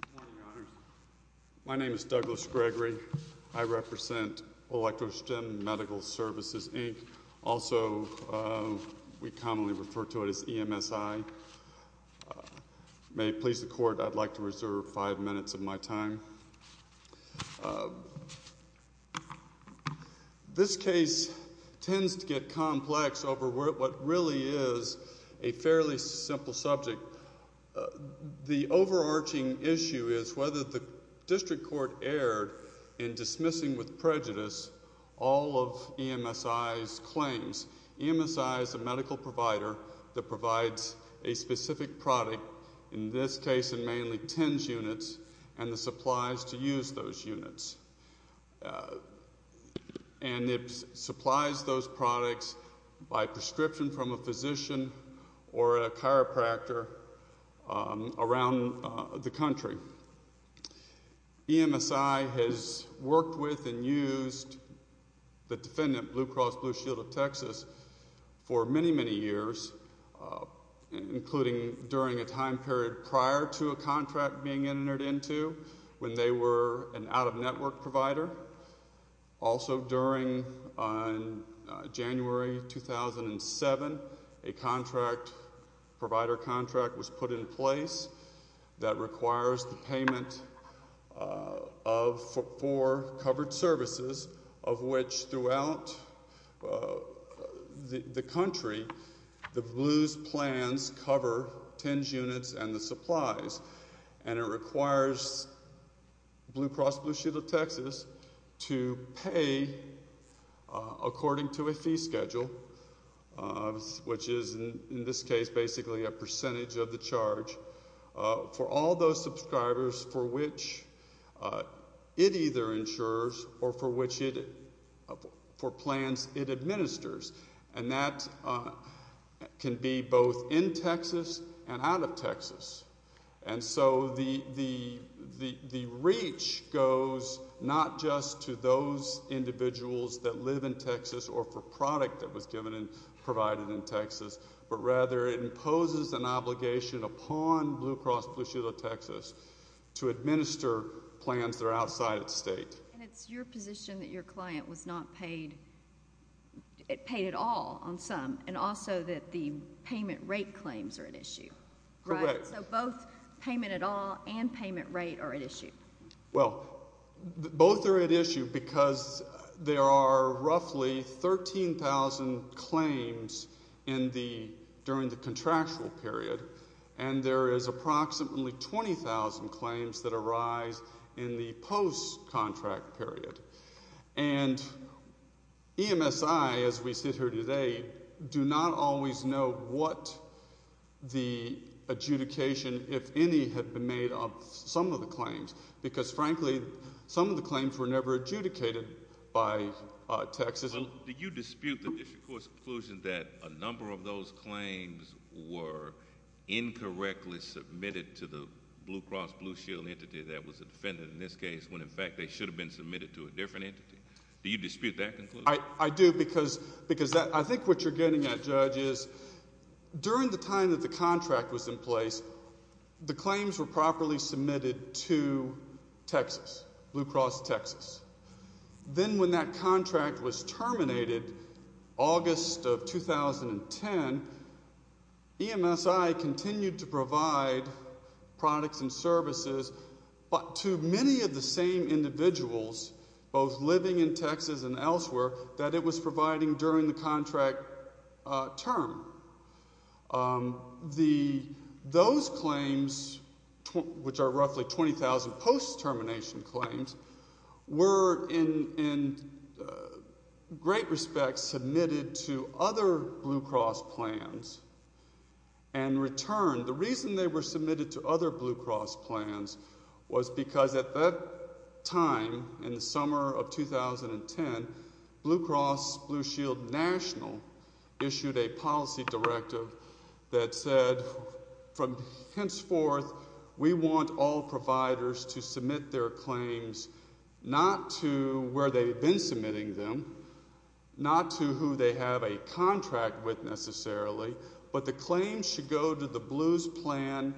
Good morning, Your Honors. My name is Douglas Gregory. I represent Electrostim Medical Services, Inc. Also, we commonly refer to it as EMSI. May it please the Court, I'd like to reserve five minutes of my time. This case tends to get complex over what really is a fairly simple subject. The overarching issue is whether the district court erred in dismissing with prejudice all of EMSI's claims. EMSI is a medical provider that provides a specific product, in this case in mainly TENS units, and the supplies to use those units. And it supplies those products by prescription from a physician or a chiropractor around the country. EMSI has worked with and used the defendant, Blue Cross Blue Shield of Texas, for many, many years, including during a time period prior to a contract being entered into when they were an out-of-network provider. Also, during January 2007, a provider contract was put in place that requires the payment for covered services, of which throughout the country the Blue's plans cover TENS units and the supplies. And it requires Blue Cross Blue Shield of Texas to pay according to a fee schedule, which is in this case basically a percentage of the charge, for all those subscribers for which it either insures or for plans it administers. And that can be both in Texas and out of Texas. And so the reach goes not just to those individuals that live in Texas or for product that was given and provided in Texas, but rather it imposes an obligation upon Blue Cross Blue Shield of Texas to administer plans that are outside its state. And it's your position that your client was not paid at all on some, and also that the payment rate claims are at issue. Correct. So both payment at all and payment rate are at issue. Well, both are at issue because there are roughly 13,000 claims during the contractual period, and there is approximately 20,000 claims that arise in the post-contract period. And EMSI, as we sit here today, do not always know what the adjudication, if any, had been made of some of the claims, because, frankly, some of the claims were never adjudicated by Texas. Do you dispute the District Court's conclusion that a number of those claims were incorrectly submitted to the Blue Cross Blue Shield entity that was a defendant in this case when, in fact, they should have been submitted to a different entity? Do you dispute that conclusion? I do, because I think what you're getting at, Judge, is during the time that the contract was in place, the claims were properly submitted to Texas, Blue Cross Texas. Then when that contract was terminated, August of 2010, EMSI continued to provide products and services to many of the same individuals, both living in Texas and elsewhere, that it was providing during the contract term. Those claims, which are roughly 20,000 post-termination claims, were in great respect submitted to other Blue Cross plans and returned. The reason they were submitted to other Blue Cross plans was because at that time, in the summer of 2010, Blue Cross Blue Shield National issued a policy directive that said, henceforth, we want all providers to submit their claims not to where they've been submitting them, not to who they have a contract with, necessarily, but the claims should go to the Blue's plan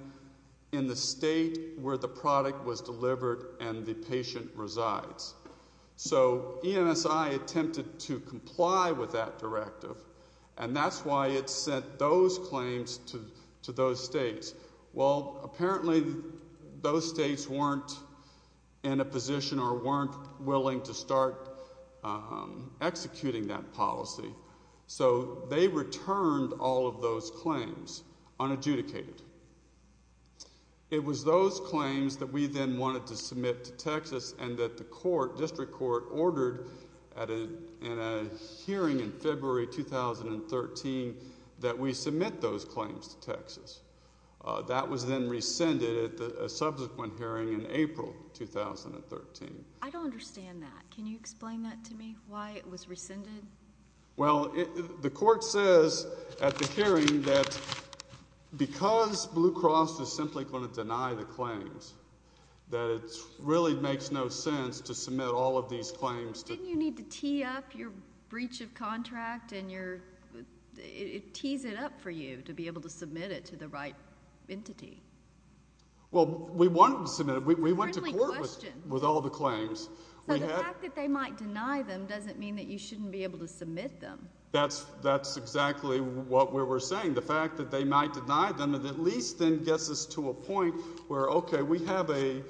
in the state where the product was delivered and the patient resides. So EMSI attempted to comply with that directive, and that's why it sent those claims to those states. Well, apparently, those states weren't in a position or weren't willing to start executing that policy. So they returned all of those claims unadjudicated. It was those claims that we then wanted to submit to Texas, and that the court, district court, ordered in a hearing in February 2013 that we submit those claims to Texas. That was then rescinded at a subsequent hearing in April 2013. I don't understand that. Can you explain that to me, why it was rescinded? Well, the court says at the hearing that because Blue Cross is simply going to deny the claims, that it really makes no sense to submit all of these claims. Didn't you need to tee up your breach of contract? It tees it up for you to be able to submit it to the right entity. Well, we wanted to submit it. We went to court with all the claims. So the fact that they might deny them doesn't mean that you shouldn't be able to submit them. That's exactly what we were saying. The fact that they might deny them at least then gets us to a point where, okay, we have an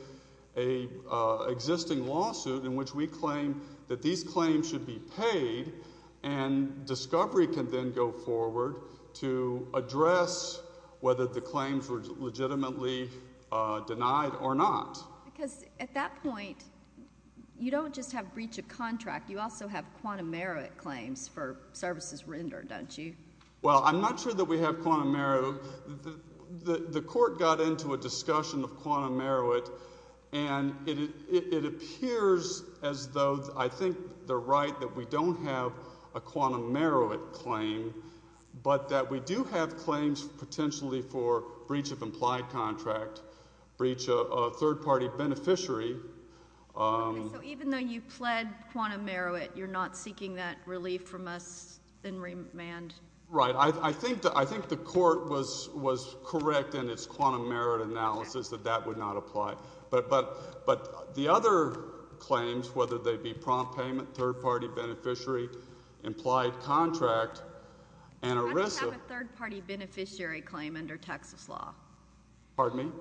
existing lawsuit in which we claim that these claims should be paid, and discovery can then go forward to address whether the claims were legitimately denied or not. Because at that point, you don't just have breach of contract. You also have quantum merit claims for services rendered, don't you? Well, I'm not sure that we have quantum merit. The court got into a discussion of quantum merit, and it appears as though I think they're right that we don't have a quantum merit claim, but that we do have claims potentially for breach of implied contract, breach of a third-party beneficiary. Okay, so even though you pled quantum merit, you're not seeking that relief from us in remand? Right. I think the court was correct in its quantum merit analysis that that would not apply. But the other claims, whether they be prompt payment, third-party beneficiary, implied contract, and a risk of— Why do you have a third-party beneficiary claim under Texas law? Pardon me?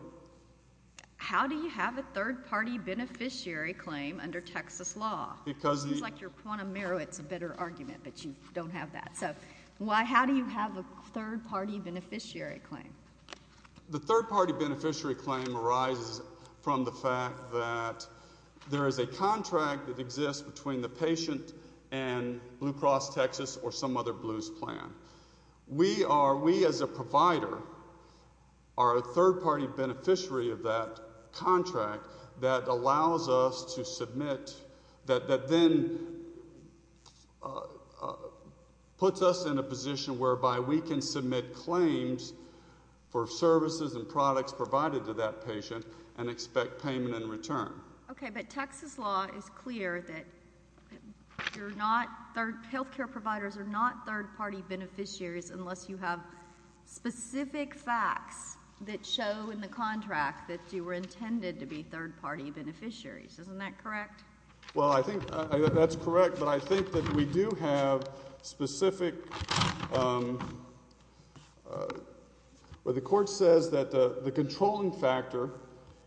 How do you have a third-party beneficiary claim under Texas law? It seems like your quantum merit is a better argument, but you don't have that. So how do you have a third-party beneficiary claim? The third-party beneficiary claim arises from the fact that there is a contract that exists between the patient and Blue Cross Texas or some other blues plan. We as a provider are a third-party beneficiary of that contract that allows us to submit— that then puts us in a position whereby we can submit claims for services and products provided to that patient and expect payment in return. Okay, but Texas law is clear that you're not—health care providers are not third-party beneficiaries unless you have specific facts that show in the contract that you were intended to be third-party beneficiaries. Isn't that correct? Well, I think that's correct, but I think that we do have specific— the court says that the controlling factor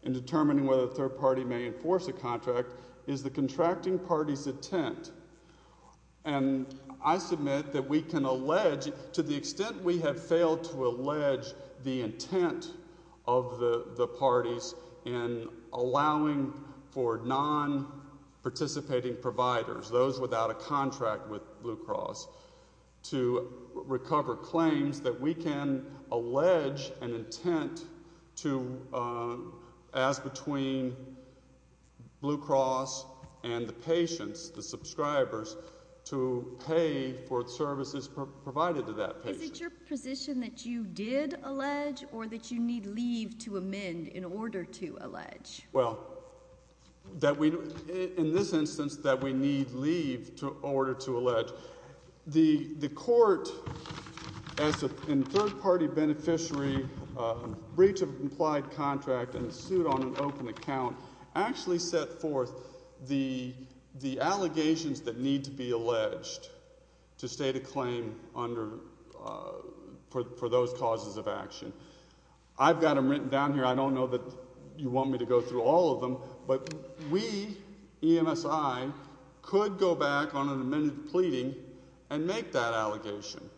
in determining whether a third-party may enforce a contract is the contracting party's intent. And I submit that we can allege, to the extent we have failed to allege the intent of the parties in allowing for non-participating providers, those without a contract with Blue Cross, to recover claims that we can allege an intent to ask between Blue Cross and the patients, the subscribers, to pay for services provided to that patient. Is it your position that you did allege or that you need leave to amend in order to allege? Well, that we—in this instance, that we need leave in order to allege. The court, as a third-party beneficiary, breach of implied contract and sued on an open account, actually set forth the allegations that need to be alleged to state a claim under—for those causes of action. I've got them written down here. I don't know that you want me to go through all of them. But we, EMSI, could go back on an amended pleading and make that allegation,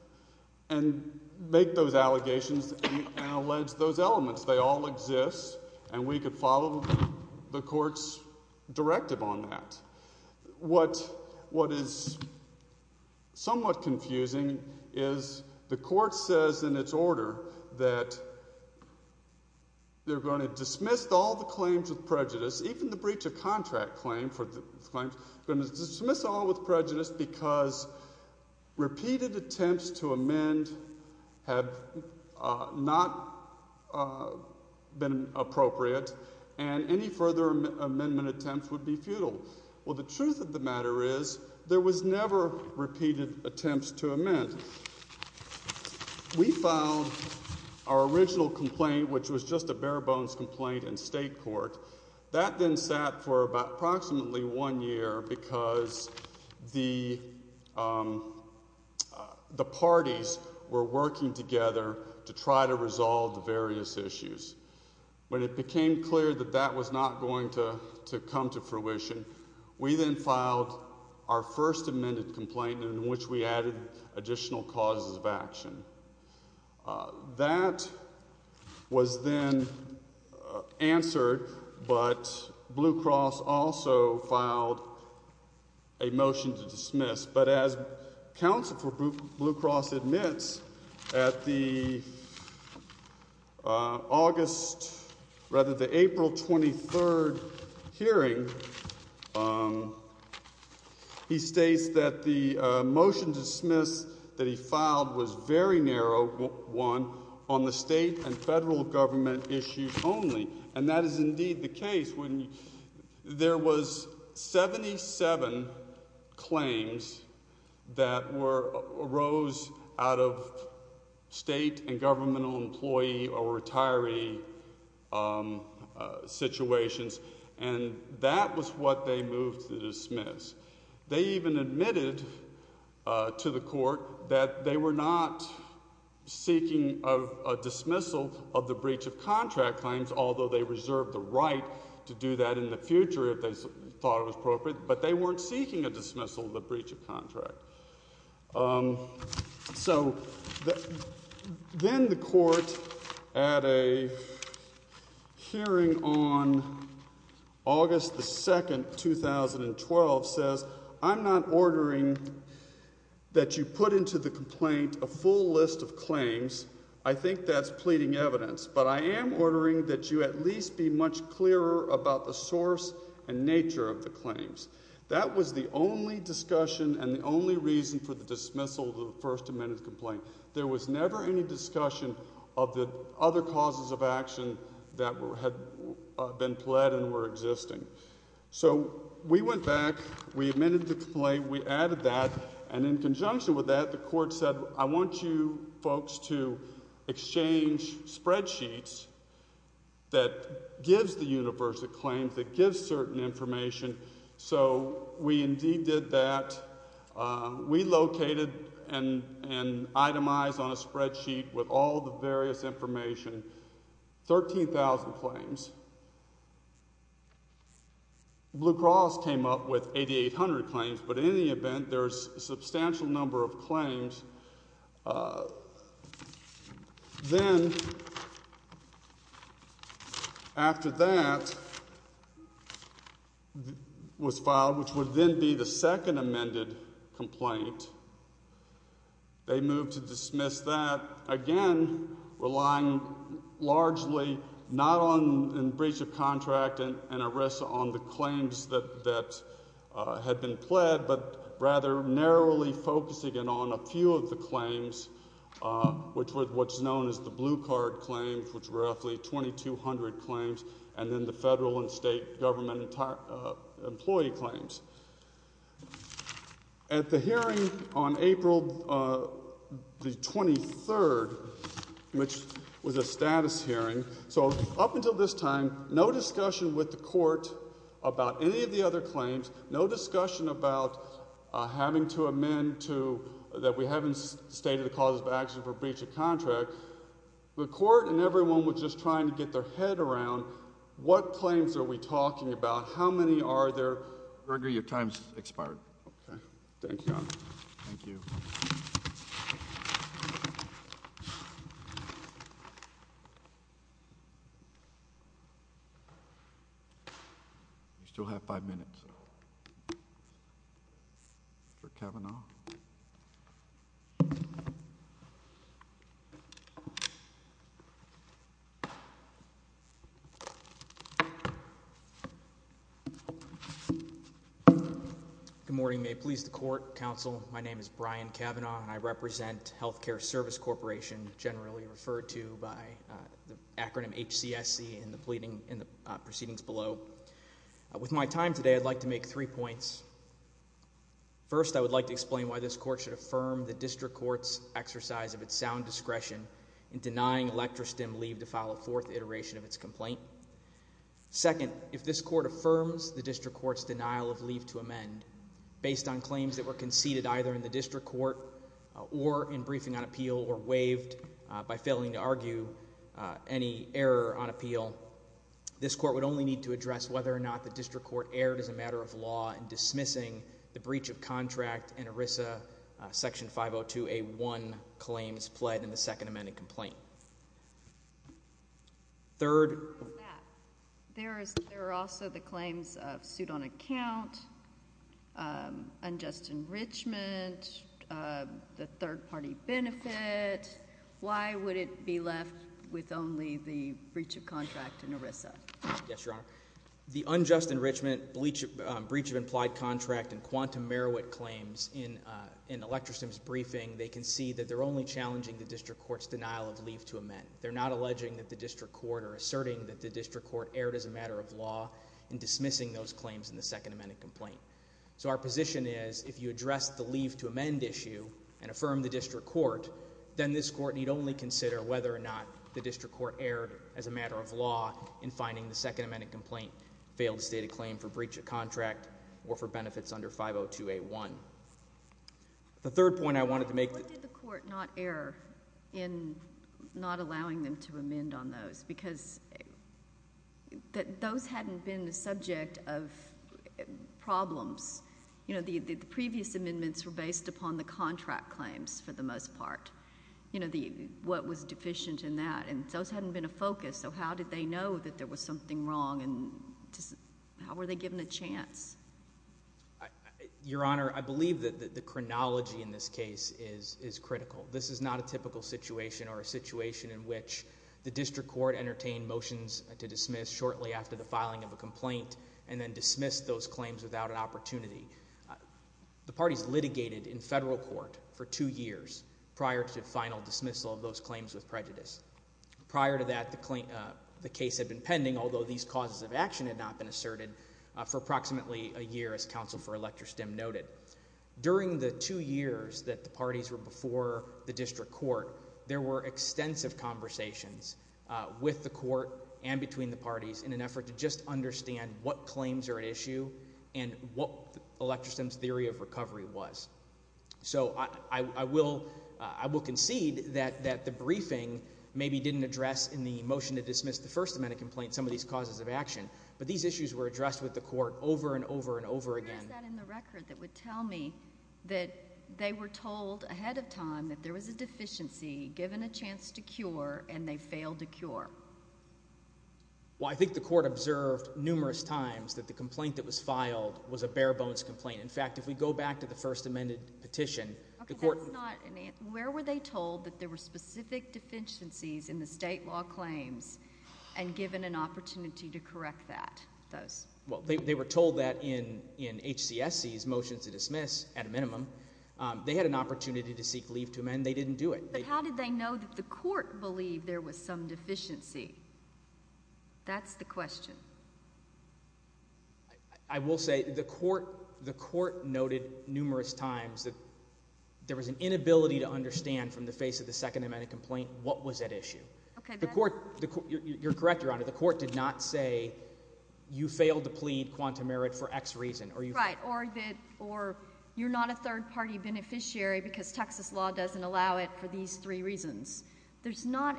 and make those allegations and allege those elements. They all exist, and we could follow the court's directive on that. What is somewhat confusing is the court says in its order that they're going to dismiss all the claims with prejudice, even the breach of contract claim for the claims, going to dismiss all with prejudice because repeated attempts to amend have not been appropriate, and any further amendment attempts would be futile. Well, the truth of the matter is there was never repeated attempts to amend. We filed our original complaint, which was just a bare-bones complaint in state court. That then sat for approximately one year because the parties were working together to try to resolve various issues. When it became clear that that was not going to come to fruition, we then filed our first amended complaint in which we added additional causes of action. That was then answered, but Blue Cross also filed a motion to dismiss. But as counsel for Blue Cross admits, at the April 23 hearing, he states that the motion to dismiss that he filed was a very narrow one on the state and federal government issues only. That is indeed the case. There was 77 claims that arose out of state and governmental employee or retiree situations, and that was what they moved to dismiss. They even admitted to the court that they were not seeking a dismissal of the breach of contract claims, although they reserved the right to do that in the future if they thought it was appropriate, but they weren't seeking a dismissal of the breach of contract. So then the court, at a hearing on August 2, 2012, says, I'm not ordering that you put into the complaint a full list of claims. I think that's pleading evidence, but I am ordering that you at least be much clearer about the source and nature of the claims. That was the only discussion and the only reason for the dismissal of the first amended complaint. There was never any discussion of the other causes of action that had been pled and were existing. So we went back. We admitted the complaint. We added that, and in conjunction with that, the court said, I want you folks to exchange spreadsheets that gives the universe of claims, that gives certain information. So we indeed did that. We located and itemized on a spreadsheet with all the various information 13,000 claims. Blue Cross came up with 8,800 claims, but in any event, there's a substantial number of claims. Then after that was filed, which would then be the second amended complaint, they moved to dismiss that, again, relying largely not on breach of contract and arrest on the claims that had been pled, but rather narrowly focusing it on a few of the claims, which were what's known as the blue card claims, which were roughly 2,200 claims, and then the federal and state government employee claims. At the hearing on April the 23rd, which was a status hearing, so up until this time, no discussion with the court about any of the other claims, no discussion about having to amend that we haven't stated the causes of action for breach of contract. The court and everyone was just trying to get their head around what claims are we talking about, how many are there. Your time's expired. Thank you, Your Honor. Thank you. You still have five minutes for Kavanaugh. Good morning. May it please the court, counsel. My name is Brian Kavanaugh, and I represent Healthcare Service Corporation, generally referred to by the acronym HCSC in the proceedings below. With my time today, I'd like to make three points. First, I would like to explain why this court should affirm the district court's exercise of its sound discretion in denying Electra Stem leave to file a fourth iteration of its complaint. Second, if this court affirms the district court's denial of leave to amend, based on claims that were conceded either in the district court or in briefing on appeal or waived by failing to argue any error on appeal, this court would only need to address whether or not the district court erred as a matter of law in dismissing the breach of contract in ERISA Section 502A1 claims pled in the second amended complaint. Third. There are also the claims of suit on account, unjust enrichment, the third-party benefit. Why would it be left with only the breach of contract in ERISA? Yes, Your Honor. The unjust enrichment, breach of implied contract, and quantum merit claims in Electra Stem's briefing, they can see that they're only challenging the district court's denial of leave to amend. They're not alleging that the district court or asserting that the district court erred as a matter of law in dismissing those claims in the second amended complaint. So our position is if you address the leave to amend issue and affirm the district court, then this court need only consider whether or not the district court erred as a matter of law in finding the second amended complaint failed to state a claim for breach of contract or for benefits under 502A1. The third point I wanted to make. Why did the court not err in not allowing them to amend on those? Because those hadn't been the subject of problems. You know, the previous amendments were based upon the contract claims for the most part, you know, what was deficient in that, and those hadn't been a focus. So how did they know that there was something wrong, and how were they given a chance? Your Honor, I believe that the chronology in this case is critical. This is not a typical situation or a situation in which the district court entertained motions to dismiss shortly after the filing of a complaint and then dismissed those claims without an opportunity. The parties litigated in federal court for two years prior to final dismissal of those claims with prejudice. Prior to that, the case had been pending, although these causes of action had not been asserted, for approximately a year, as counsel for Electra Stem noted. During the two years that the parties were before the district court, there were extensive conversations with the court and between the parties in an effort to just understand what claims are at issue and what Electra Stem's theory of recovery was. So I will concede that the briefing maybe didn't address in the motion to dismiss the first amendment complaint and some of these causes of action, but these issues were addressed with the court over and over and over again. Where is that in the record that would tell me that they were told ahead of time that there was a deficiency given a chance to cure and they failed to cure? Well, I think the court observed numerous times that the complaint that was filed was a bare-bones complaint. In fact, if we go back to the first amendment petition, the court— Okay, that's not—where were they told that there were specific deficiencies in the state law claims and given an opportunity to correct those? Well, they were told that in HCSC's motion to dismiss, at a minimum. They had an opportunity to seek leave to amend. They didn't do it. But how did they know that the court believed there was some deficiency? That's the question. I will say the court noted numerous times that there was an inability to understand from the face of the second amendment complaint what was at issue. Okay, that's— You're correct, Your Honor. The court did not say, you failed to plead quantum merit for X reason. Right, or you're not a third-party beneficiary because Texas law doesn't allow it for these three reasons. There's not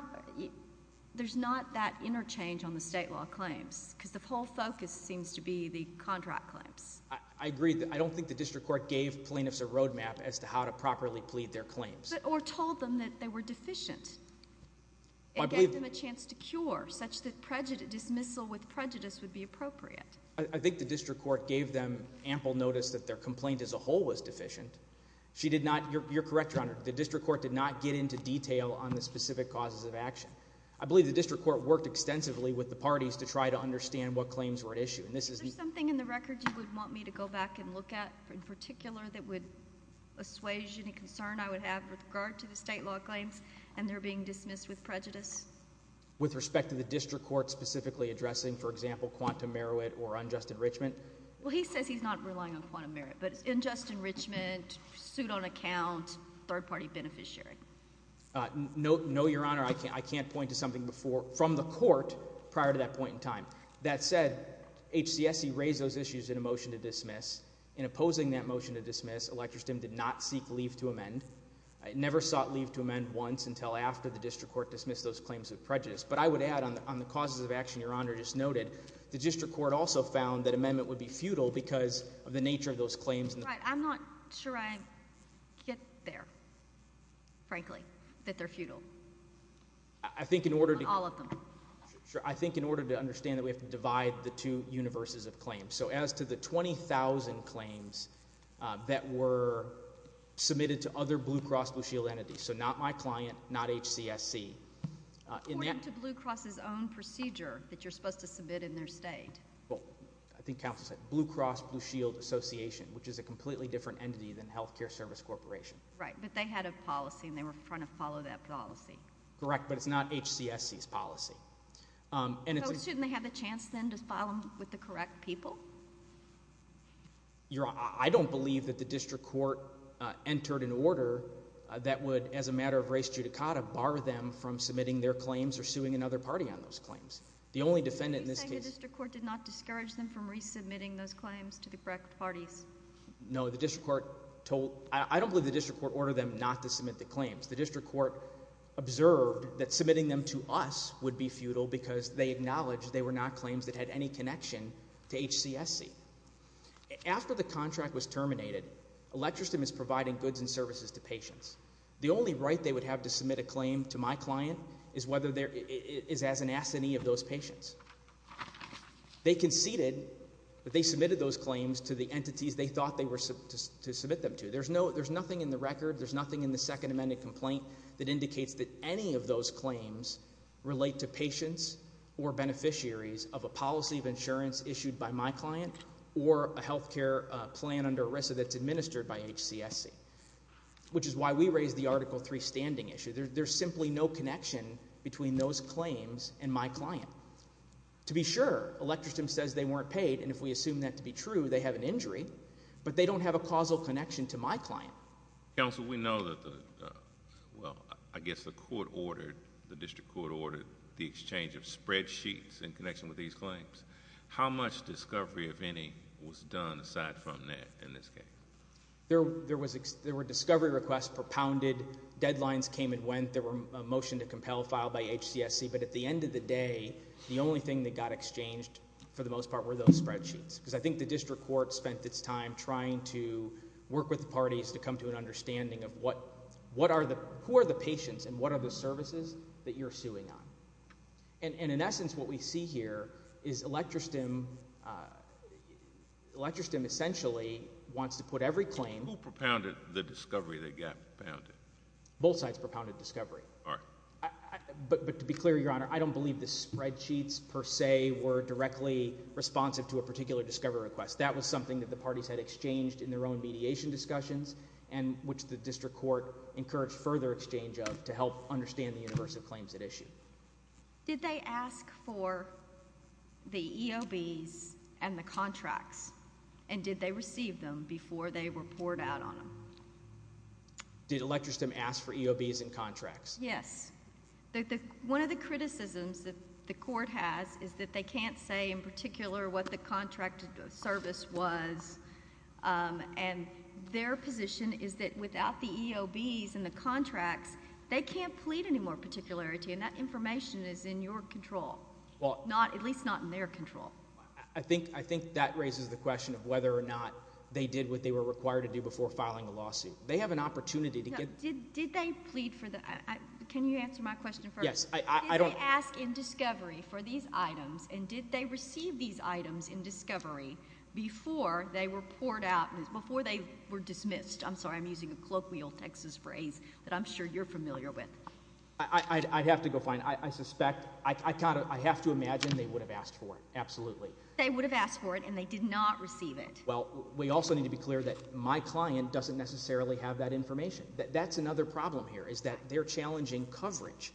that interchange on the state law claims because the whole focus seems to be the contract claims. I agree. I don't think the district court gave plaintiffs a roadmap as to how to properly plead their claims. Or told them that they were deficient. It gave them a chance to cure, such that dismissal with prejudice would be appropriate. I think the district court gave them ample notice that their complaint as a whole was deficient. She did not—you're correct, Your Honor. The district court did not get into detail on the specific causes of action. I believe the district court worked extensively with the parties to try to understand what claims were at issue. Is there something in the record you would want me to go back and look at in particular that would assuage any concern I would have with regard to the state law claims and their being dismissed with prejudice? With respect to the district court specifically addressing, for example, quantum merit or unjust enrichment? Well, he says he's not relying on quantum merit, but unjust enrichment, suit on account, third-party beneficiary. No, Your Honor. I can't point to something from the court prior to that point in time. That said, HCSC raised those issues in a motion to dismiss. In opposing that motion to dismiss, Electristim did not seek leave to amend. It never sought leave to amend once until after the district court dismissed those claims with prejudice. But I would add on the causes of action Your Honor just noted, the district court also found that amendment would be futile because of the nature of those claims. I'm not sure I get there, frankly, that they're futile. I think in order to— All of them. Sure. I think in order to understand that we have to divide the two universes of claims. So as to the 20,000 claims that were submitted to other Blue Cross Blue Shield entities, so not my client, not HCSC— According to Blue Cross's own procedure that you're supposed to submit in their state. Well, I think counsel said Blue Cross Blue Shield Association, which is a completely different entity than Healthcare Service Corporation. Right, but they had a policy and they were trying to follow that policy. Correct, but it's not HCSC's policy. So shouldn't they have a chance then to file them with the correct people? Your Honor, I don't believe that the district court entered an order that would, as a matter of race judicata, bar them from submitting their claims or suing another party on those claims. The only defendant in this case— Are you saying the district court did not discourage them from resubmitting those claims to the correct parties? No, the district court told—I don't believe the district court ordered them not to submit the claims. The district court observed that submitting them to us would be futile because they acknowledged they were not claims that had any connection to HCSC. After the contract was terminated, Electristim is providing goods and services to patients. The only right they would have to submit a claim to my client is as an assignee of those patients. They conceded that they submitted those claims to the entities they thought they were to submit them to. There's nothing in the record, there's nothing in the Second Amendment complaint that indicates that any of those claims relate to patients or beneficiaries of a policy of insurance issued by my client or a health care plan under ERISA that's administered by HCSC, which is why we raised the Article III standing issue. There's simply no connection between those claims and my client. To be sure, Electristim says they weren't paid, and if we assume that to be true, they have an injury, but they don't have a causal connection to my client. Counsel, we know that the, well, I guess the court ordered, the district court ordered the exchange of spreadsheets in connection with these claims. How much discovery, if any, was done aside from that in this case? There were discovery requests propounded, deadlines came and went, there was a motion to compel filed by HCSC, but at the end of the day, the only thing that got exchanged, for the most part, were those spreadsheets because I think the district court spent its time trying to work with the parties to come to an understanding of what, what are the, who are the patients and what are the services that you're suing on. And in essence, what we see here is Electristim, Electristim essentially wants to put every claim. Who propounded the discovery that got propounded? Both sides propounded discovery. All right. But to be clear, Your Honor, I don't believe the spreadsheets per se were directly responsive to a particular discovery request. That was something that the parties had exchanged in their own mediation discussions and which the district court encouraged further exchange of to help understand the universe of claims at issue. Did they ask for the EOBs and the contracts? And did they receive them before they were poured out on them? Did Electristim ask for EOBs and contracts? Yes. One of the criticisms that the court has is that they can't say in particular what the contracted service was. And their position is that without the EOBs and the contracts, they can't plead any more particularity, and that information is in your control, at least not in their control. I think that raises the question of whether or not they did what they were required to do before filing a lawsuit. They have an opportunity to get— Did they plead for the—can you answer my question first? Yes. Did they ask in discovery for these items, and did they receive these items in discovery before they were poured out, before they were dismissed? I'm sorry, I'm using a colloquial Texas phrase that I'm sure you're familiar with. I'd have to go find—I suspect—I have to imagine they would have asked for it, absolutely. They would have asked for it, and they did not receive it. Well, we also need to be clear that my client doesn't necessarily have that information. That's another problem here is that they're challenging coverage.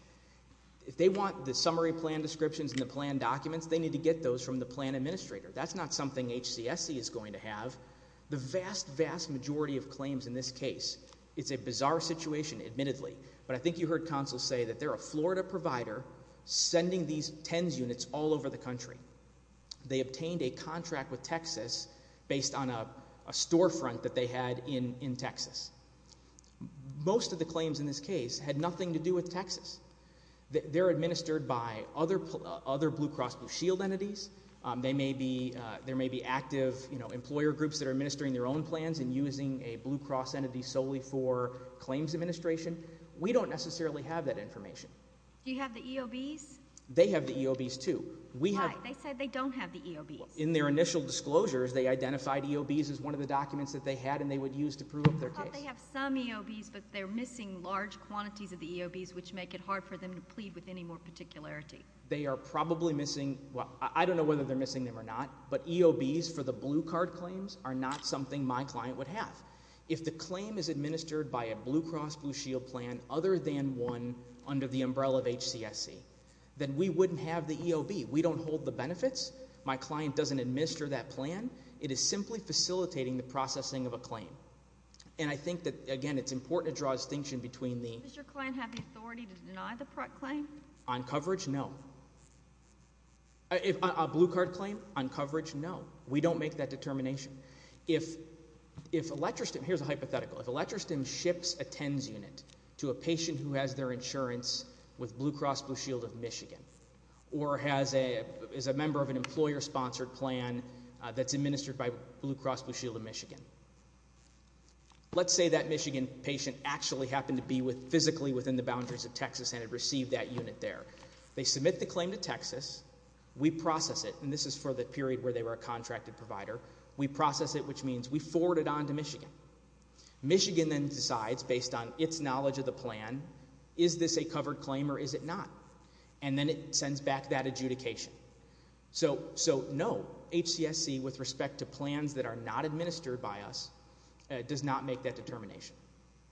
If they want the summary plan descriptions and the plan documents, they need to get those from the plan administrator. That's not something HCSC is going to have. The vast, vast majority of claims in this case, it's a bizarre situation admittedly, but I think you heard counsel say that they're a Florida provider sending these TENS units all over the country. They obtained a contract with Texas based on a storefront that they had in Texas. Most of the claims in this case had nothing to do with Texas. They're administered by other Blue Cross Blue Shield entities. There may be active employer groups that are administering their own plans and using a Blue Cross entity solely for claims administration. We don't necessarily have that information. Do you have the EOBs? They have the EOBs too. Why? They said they don't have the EOBs. In their initial disclosures, they identified EOBs as one of the documents that they had and they would use to prove up their case. I thought they have some EOBs, but they're missing large quantities of the EOBs, which make it hard for them to plead with any more particularity. They are probably missing, well, I don't know whether they're missing them or not, but EOBs for the blue card claims are not something my client would have. If the claim is administered by a Blue Cross Blue Shield plan other than one under the umbrella of HCSC, then we wouldn't have the EOB. We don't hold the benefits. My client doesn't administer that plan. It is simply facilitating the processing of a claim. And I think that, again, it's important to draw a distinction between the— Does your client have the authority to deny the claim? On coverage, no. A blue card claim, on coverage, no. We don't make that determination. Here's a hypothetical. If ElectroStim ships a TENS unit to a patient who has their insurance with Blue Cross Blue Shield of Michigan or is a member of an employer-sponsored plan that's administered by Blue Cross Blue Shield of Michigan, let's say that Michigan patient actually happened to be physically within the boundaries of Texas and had received that unit there. They submit the claim to Texas. We process it, and this is for the period where they were a contracted provider. We process it, which means we forward it on to Michigan. Michigan then decides, based on its knowledge of the plan, is this a covered claim or is it not? And then it sends back that adjudication. So, no, HCSC, with respect to plans that are not administered by us, does not make that determination.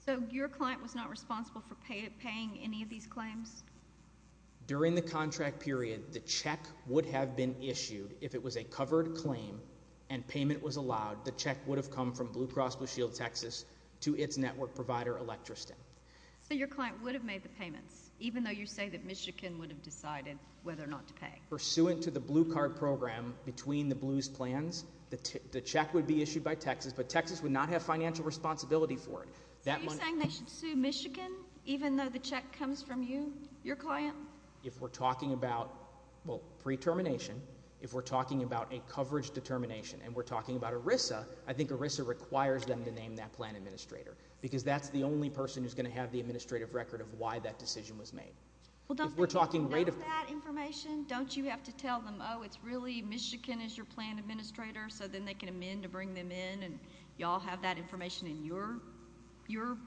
So your client was not responsible for paying any of these claims? During the contract period, the check would have been issued if it was a covered claim and payment was allowed. The check would have come from Blue Cross Blue Shield Texas to its network provider, ElectroStim. So your client would have made the payments, even though you say that Michigan would have decided whether or not to pay? Pursuant to the Blue Card program, between the Blue's plans, the check would be issued by Texas, but Texas would not have financial responsibility for it. So you're saying they should sue Michigan, even though the check comes from you, your client? If we're talking about, well, pre-termination, if we're talking about a coverage determination, and we're talking about ERISA, I think ERISA requires them to name that plan administrator because that's the only person who's going to have the administrative record of why that decision was made. Well, don't they know that information? Don't you have to tell them, oh, it's really Michigan as your plan administrator, so then they can amend to bring them in, and you all have that information in your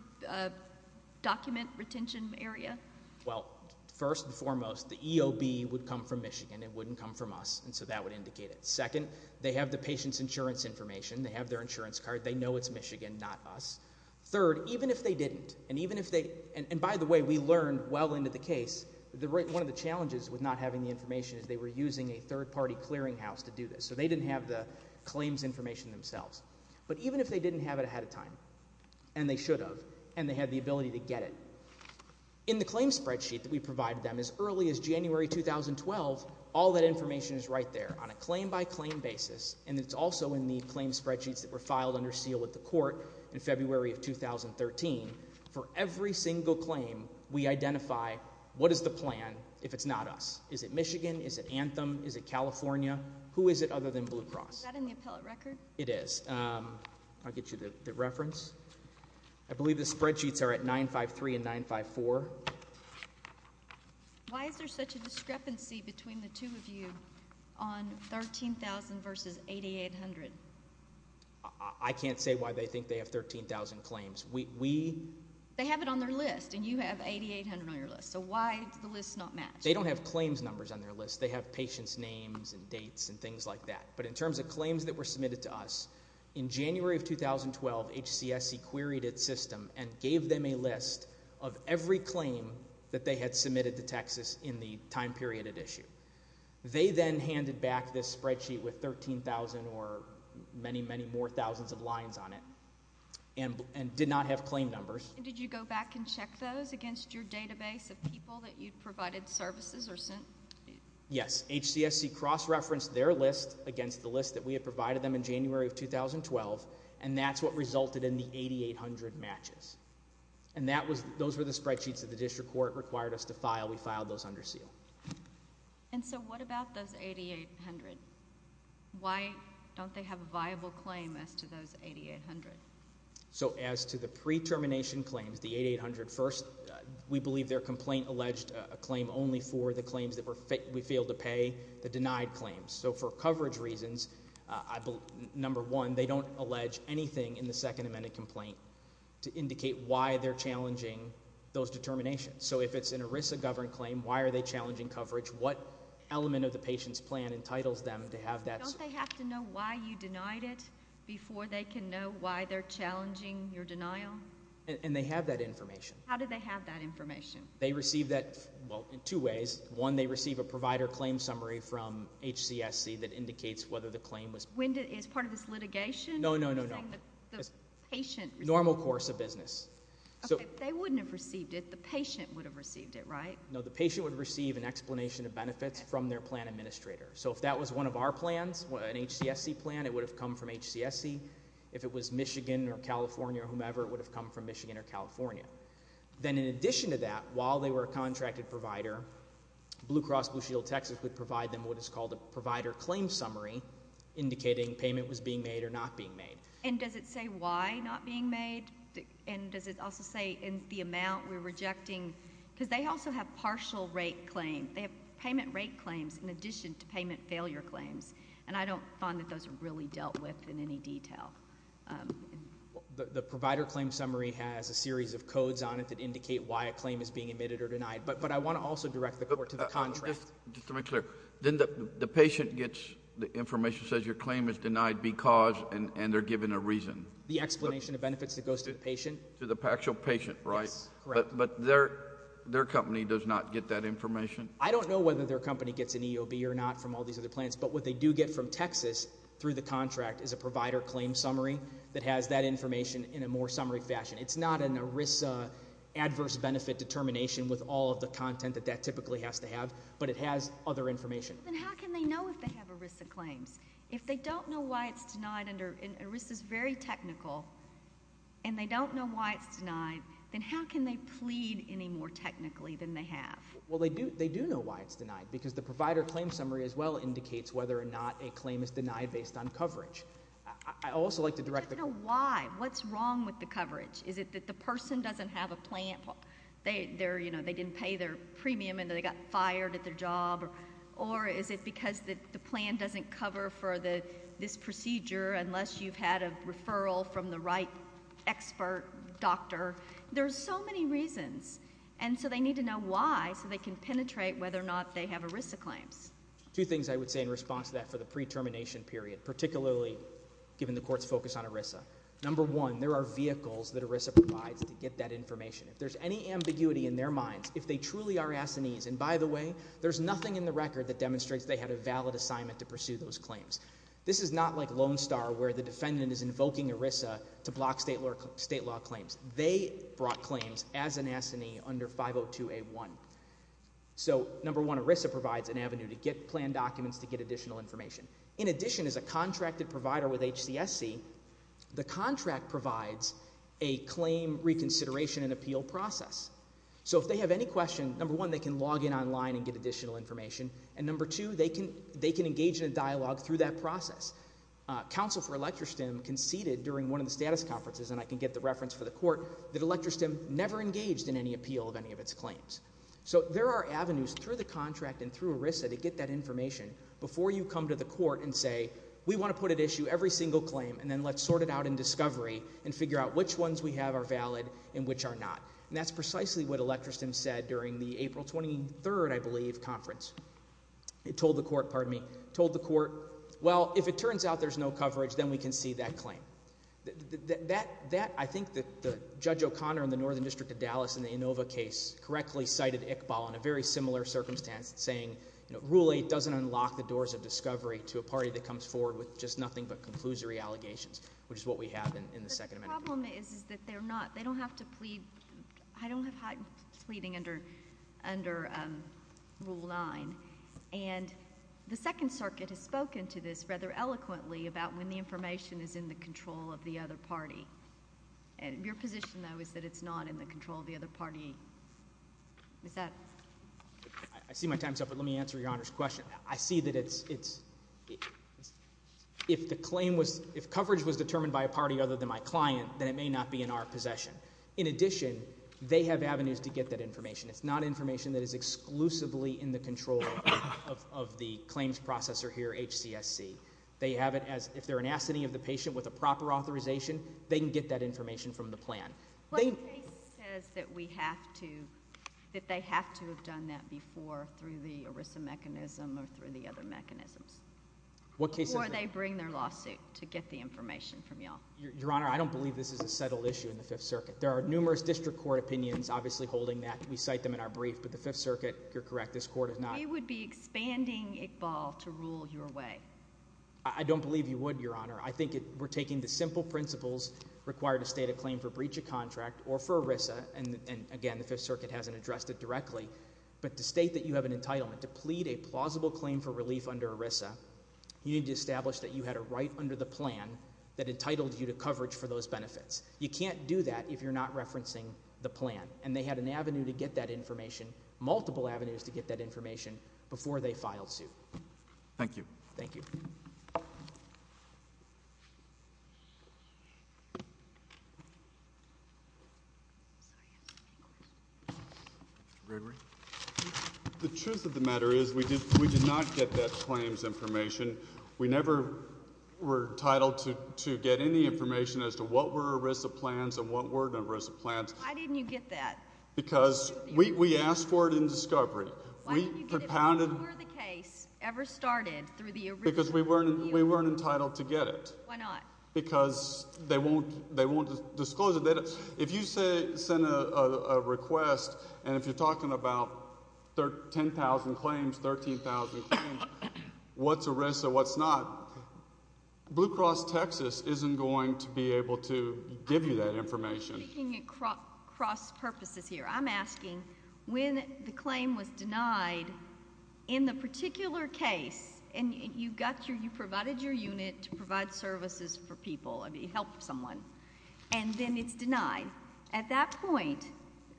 document retention area? Well, first and foremost, the EOB would come from Michigan. It wouldn't come from us, and so that would indicate it. Second, they have the patient's insurance information. They have their insurance card. They know it's Michigan, not us. Third, even if they didn't, and even if they – and by the way, we learned well into the case. One of the challenges with not having the information is they were using a third-party clearinghouse to do this, so they didn't have the claims information themselves. But even if they didn't have it ahead of time, and they should have, and they had the ability to get it, in the claims spreadsheet that we provided them as early as January 2012, all that information is right there on a claim-by-claim basis, and it's also in the claims spreadsheets that were filed under seal with the court in February of 2013. For every single claim, we identify what is the plan if it's not us. Is it Michigan? Is it Anthem? Is it California? Who is it other than Blue Cross? Is that in the appellate record? It is. I'll get you the reference. I believe the spreadsheets are at 953 and 954. Why is there such a discrepancy between the two of you on 13,000 versus 8,800? I can't say why they think they have 13,000 claims. We – They have it on their list, and you have 8,800 on your list, so why does the list not match? They don't have claims numbers on their list. They have patients' names and dates and things like that. But in terms of claims that were submitted to us, in January of 2012, HCSC queried its system and gave them a list of every claim that they had submitted to Texas in the time period at issue. They then handed back this spreadsheet with 13,000 or many, many more thousands of lines on it and did not have claim numbers. Did you go back and check those against your database of people that you provided services or sent? Yes. HCSC cross-referenced their list against the list that we had provided them in January of 2012, and that's what resulted in the 8,800 matches. And that was – those were the spreadsheets that the district court required us to file. We filed those under seal. And so what about those 8,800? Why don't they have a viable claim as to those 8,800? So as to the pre-termination claims, the 8,800, first, we believe their complaint alleged a claim only for the claims that we failed to pay, the denied claims. So for coverage reasons, number one, they don't allege anything in the Second Amendment complaint to indicate why they're challenging those determinations. So if it's an ERISA-governed claim, why are they challenging coverage? What element of the patient's plan entitles them to have that? Don't they have to know why you denied it before they can know why they're challenging your denial? And they have that information. How do they have that information? They receive that, well, in two ways. One, they receive a provider claim summary from HCSC that indicates whether the claim was – Is part of this litigation? No, no, no, no. The patient – Normal course of business. Okay. They wouldn't have received it. The patient would have received it, right? No, the patient would receive an explanation of benefits from their plan administrator. So if that was one of our plans, an HCSC plan, it would have come from HCSC. If it was Michigan or California or whomever, it would have come from Michigan or California. Then in addition to that, while they were a contracted provider, Blue Cross Blue Shield Texas would provide them what is called a provider claim summary indicating payment was being made or not being made. And does it say why not being made? And does it also say in the amount we're rejecting? Because they also have partial rate claims. They have payment rate claims in addition to payment failure claims, and I don't find that those are really dealt with in any detail. The provider claim summary has a series of codes on it that indicate why a claim is being admitted or denied, but I want to also direct the court to the contract. Just to make clear, then the patient gets the information, says your claim is denied because, and they're given a reason. The explanation of benefits that goes to the patient. To the actual patient, right? Yes, correct. But their company does not get that information? I don't know whether their company gets an EOB or not from all these other plans, but what they do get from Texas through the contract is a provider claim summary that has that information in a more summary fashion. It's not an ERISA adverse benefit determination with all of the content that that typically has to have, but it has other information. Then how can they know if they have ERISA claims? If they don't know why it's denied, and ERISA is very technical, and they don't know why it's denied, then how can they plead any more technically than they have? Well, they do know why it's denied, because the provider claim summary as well indicates whether or not a claim is denied based on coverage. I'd also like to direct the court. But why? What's wrong with the coverage? Is it that the person doesn't have a plan? They didn't pay their premium and they got fired at their job, or is it because the plan doesn't cover for this procedure unless you've had a referral from the right expert doctor? There are so many reasons, and so they need to know why so they can penetrate whether or not they have ERISA claims. Two things I would say in response to that for the pre-termination period, particularly given the court's focus on ERISA. Number one, there are vehicles that ERISA provides to get that information. If there's any ambiguity in their minds, if they truly are assinees, and by the way, there's nothing in the record that demonstrates they had a valid assignment to pursue those claims. This is not like Lone Star where the defendant is invoking ERISA to block state law claims. They brought claims as an assinee under 502A1. So number one, ERISA provides an avenue to get planned documents to get additional information. In addition, as a contracted provider with HCSC, the contract provides a claim reconsideration and appeal process. So if they have any questions, number one, they can log in online and get additional information, and number two, they can engage in a dialogue through that process. Counsel for Electra Stem conceded during one of the status conferences, and I can get the reference for the court, that Electra Stem never engaged in any appeal of any of its claims. So there are avenues through the contract and through ERISA to get that information before you come to the court and say, we want to put at issue every single claim and then let's sort it out in discovery and figure out which ones we have are valid and which are not. And that's precisely what Electra Stem said during the April 23rd, I believe, conference. It told the court, pardon me, told the court, well, if it turns out there's no coverage, then we can see that claim. That, I think that Judge O'Connor in the Northern District of Dallas in the Inova case correctly cited Iqbal in a very similar circumstance saying, you know, Rule 8 doesn't unlock the doors of discovery to a party that comes forward with just nothing but conclusory allegations, which is what we have in the Second Amendment. The problem is that they're not, they don't have to plead, I don't have heightened pleading under Rule 9. And the Second Circuit has spoken to this rather eloquently about when the information is in the control of the other party. Your position, though, is that it's not in the control of the other party. Is that? I see my time's up, but let me answer Your Honor's question. I see that it's, if the claim was, if coverage was determined by a party other than my client, then it may not be in our possession. In addition, they have avenues to get that information. It's not information that is exclusively in the control of the claims processor here, HCSC. They have it as, if they're an assignee of the patient with a proper authorization, they can get that information from the plan. But the case says that we have to, that they have to have done that before through the ERISA mechanism or through the other mechanisms. What case is that? Before they bring their lawsuit to get the information from y'all. Your Honor, I don't believe this is a settled issue in the Fifth Circuit. There are numerous district court opinions obviously holding that. We cite them in our brief, but the Fifth Circuit, you're correct, this court is not. We would be expanding Iqbal to rule your way. I don't believe you would, Your Honor. I think we're taking the simple principles required to state a claim for breach of contract or for ERISA. And again, the Fifth Circuit hasn't addressed it directly. But to state that you have an entitlement to plead a plausible claim for relief under ERISA, you need to establish that you had a right under the plan that entitled you to coverage for those benefits. You can't do that if you're not referencing the plan. And they had an avenue to get that information, multiple avenues to get that information before they filed suit. Thank you. Thank you. The truth of the matter is we did not get that claims information. We never were entitled to get any information as to what were ERISA plans and what weren't ERISA plans. Why didn't you get that? Because we asked for it in discovery. Why didn't you get it before the case ever started through the original review? Because we weren't entitled to get it. Why not? Because they won't disclose it. If you send a request and if you're talking about 10,000 claims, 13,000 claims, what's ERISA, what's not, Blue Cross Texas isn't going to be able to give you that information. I'm speaking across purposes here. I'm asking when the claim was denied, in the particular case, and you provided your unit to provide services for people, help someone, and then it's denied. At that point,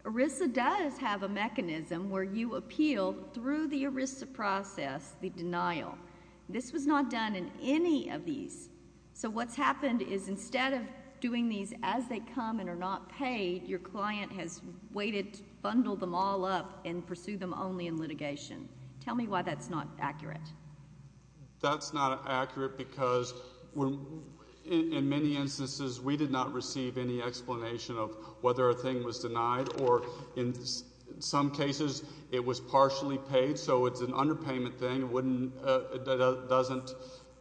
ERISA does have a mechanism where you appeal through the ERISA process the denial. This was not done in any of these. So what's happened is instead of doing these as they come and are not paid, your client has waited, bundled them all up, and pursued them only in litigation. Tell me why that's not accurate. That's not accurate because in many instances we did not receive any explanation of whether a thing was denied or in some cases it was partially paid. So it's an underpayment thing. It doesn't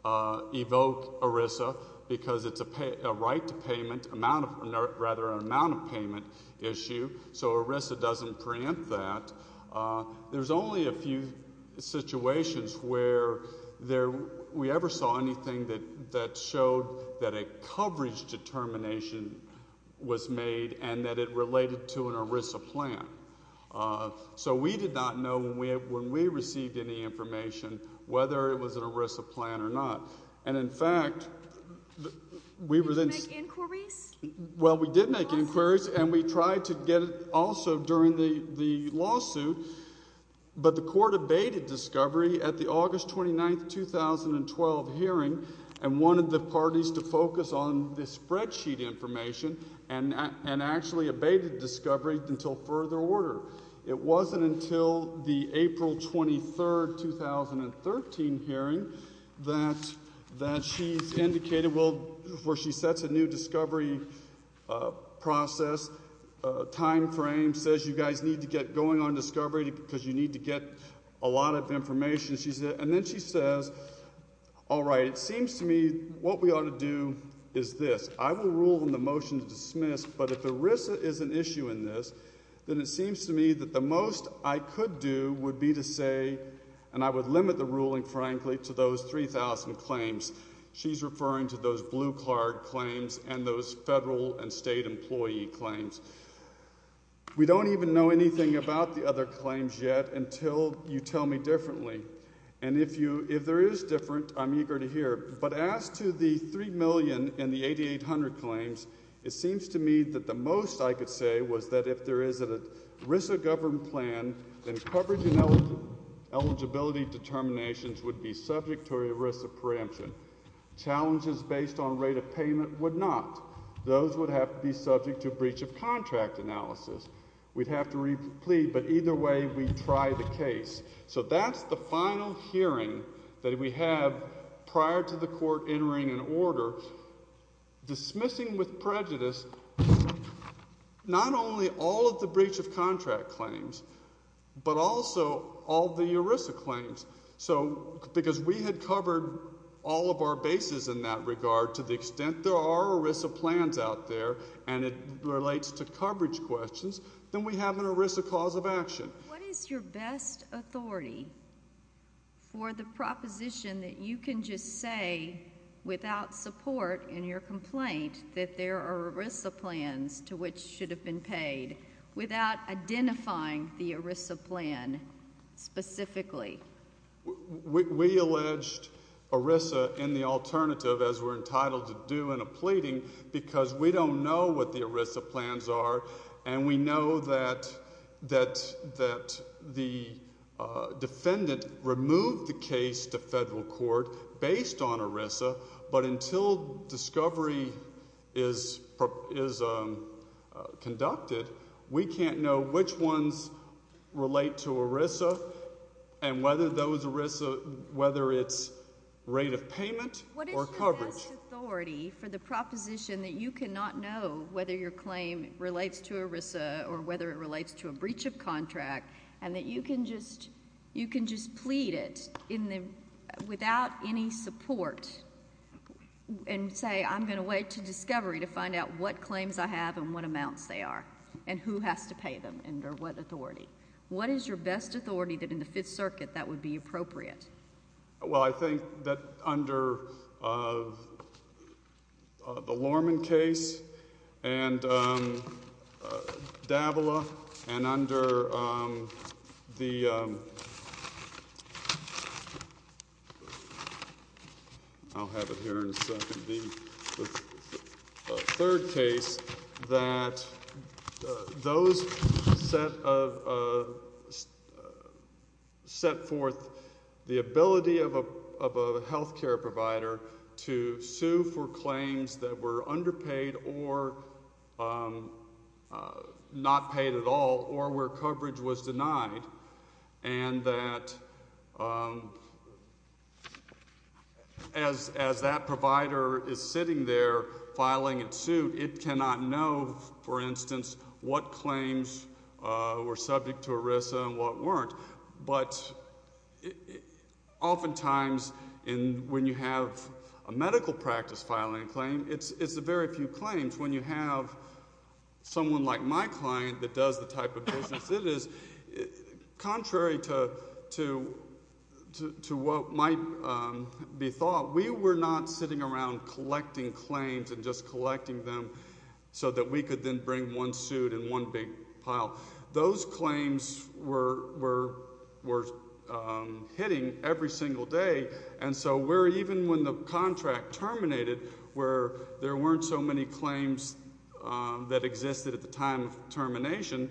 evoke ERISA because it's a right to payment, rather an amount of payment issue. So ERISA doesn't preempt that. There's only a few situations where we ever saw anything that showed that a coverage determination was made and that it related to an ERISA plan. So we did not know when we received any information whether it was an ERISA plan or not. And, in fact, we were then – Did you make inquiries? Well, we did make inquiries, and we tried to get it also during the lawsuit, but the court abated discovery at the August 29, 2012 hearing and wanted the parties to focus on the spreadsheet information and actually abated discovery until further order. It wasn't until the April 23, 2013 hearing that she's indicated where she sets a new discovery process timeframe, says you guys need to get going on discovery because you need to get a lot of information. And then she says, all right, it seems to me what we ought to do is this. I will rule in the motion to dismiss, but if ERISA is an issue in this, then it seems to me that the most I could do would be to say – and I would limit the ruling, frankly, to those 3,000 claims. She's referring to those blue card claims and those federal and state employee claims. We don't even know anything about the other claims yet until you tell me differently. And if there is different, I'm eager to hear. But as to the 3 million and the 8,800 claims, it seems to me that the most I could say was that if there is an ERISA-governed plan, then coverage and eligibility determinations would be subject to ERISA preemption. Challenges based on rate of payment would not. Those would have to be subject to breach of contract analysis. We'd have to replead, but either way, we'd try the case. So that's the final hearing that we have prior to the court entering an order, dismissing with prejudice not only all of the breach of contract claims, but also all the ERISA claims. So because we had covered all of our bases in that regard, to the extent there are ERISA plans out there and it relates to coverage questions, then we have an ERISA cause of action. What is your best authority for the proposition that you can just say without support in your complaint that there are ERISA plans to which should have been paid without identifying the ERISA plan specifically? We alleged ERISA in the alternative, as we're entitled to do in a pleading, because we don't know what the ERISA plans are, and we know that the defendant removed the case to federal court based on ERISA, but until discovery is conducted, we can't know which ones relate to ERISA and whether it's rate of payment or coverage. What is your best authority for the proposition that you cannot know whether your claim relates to ERISA or whether it relates to a breach of contract, and that you can just plead it without any support and say, I'm going to wait to discovery to find out what claims I have and what amounts they are and who has to pay them under what authority? What is your best authority that in the Fifth Circuit that would be appropriate? Well, I think that under the Lorman case and Davila and under the third case that those set forth the ability of a health care provider to sue for claims that were underpaid or not paid at all or where coverage was denied, and that as that provider is sitting there filing its suit, it cannot know, for instance, what claims were subject to ERISA and what weren't. But oftentimes when you have a medical practice filing a claim, it's a very few claims. When you have someone like my client that does the type of business it is, contrary to what might be thought, we were not sitting around collecting claims and just collecting them so that we could then bring one suit and one big pile. Those claims were hitting every single day. And so even when the contract terminated, where there weren't so many claims that existed at the time of termination,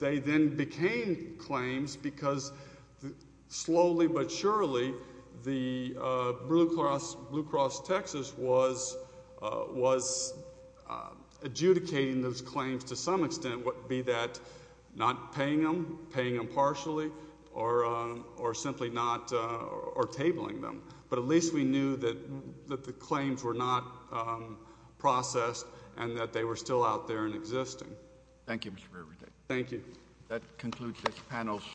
they then became claims because slowly but surely the Blue Cross Texas was adjudicating those claims to some extent, be that not paying them, paying them partially, or simply not or tabling them. But at least we knew that the claims were not processed and that they were still out there and existing. Thank you, Mr. Rueda. That concludes this panel's session.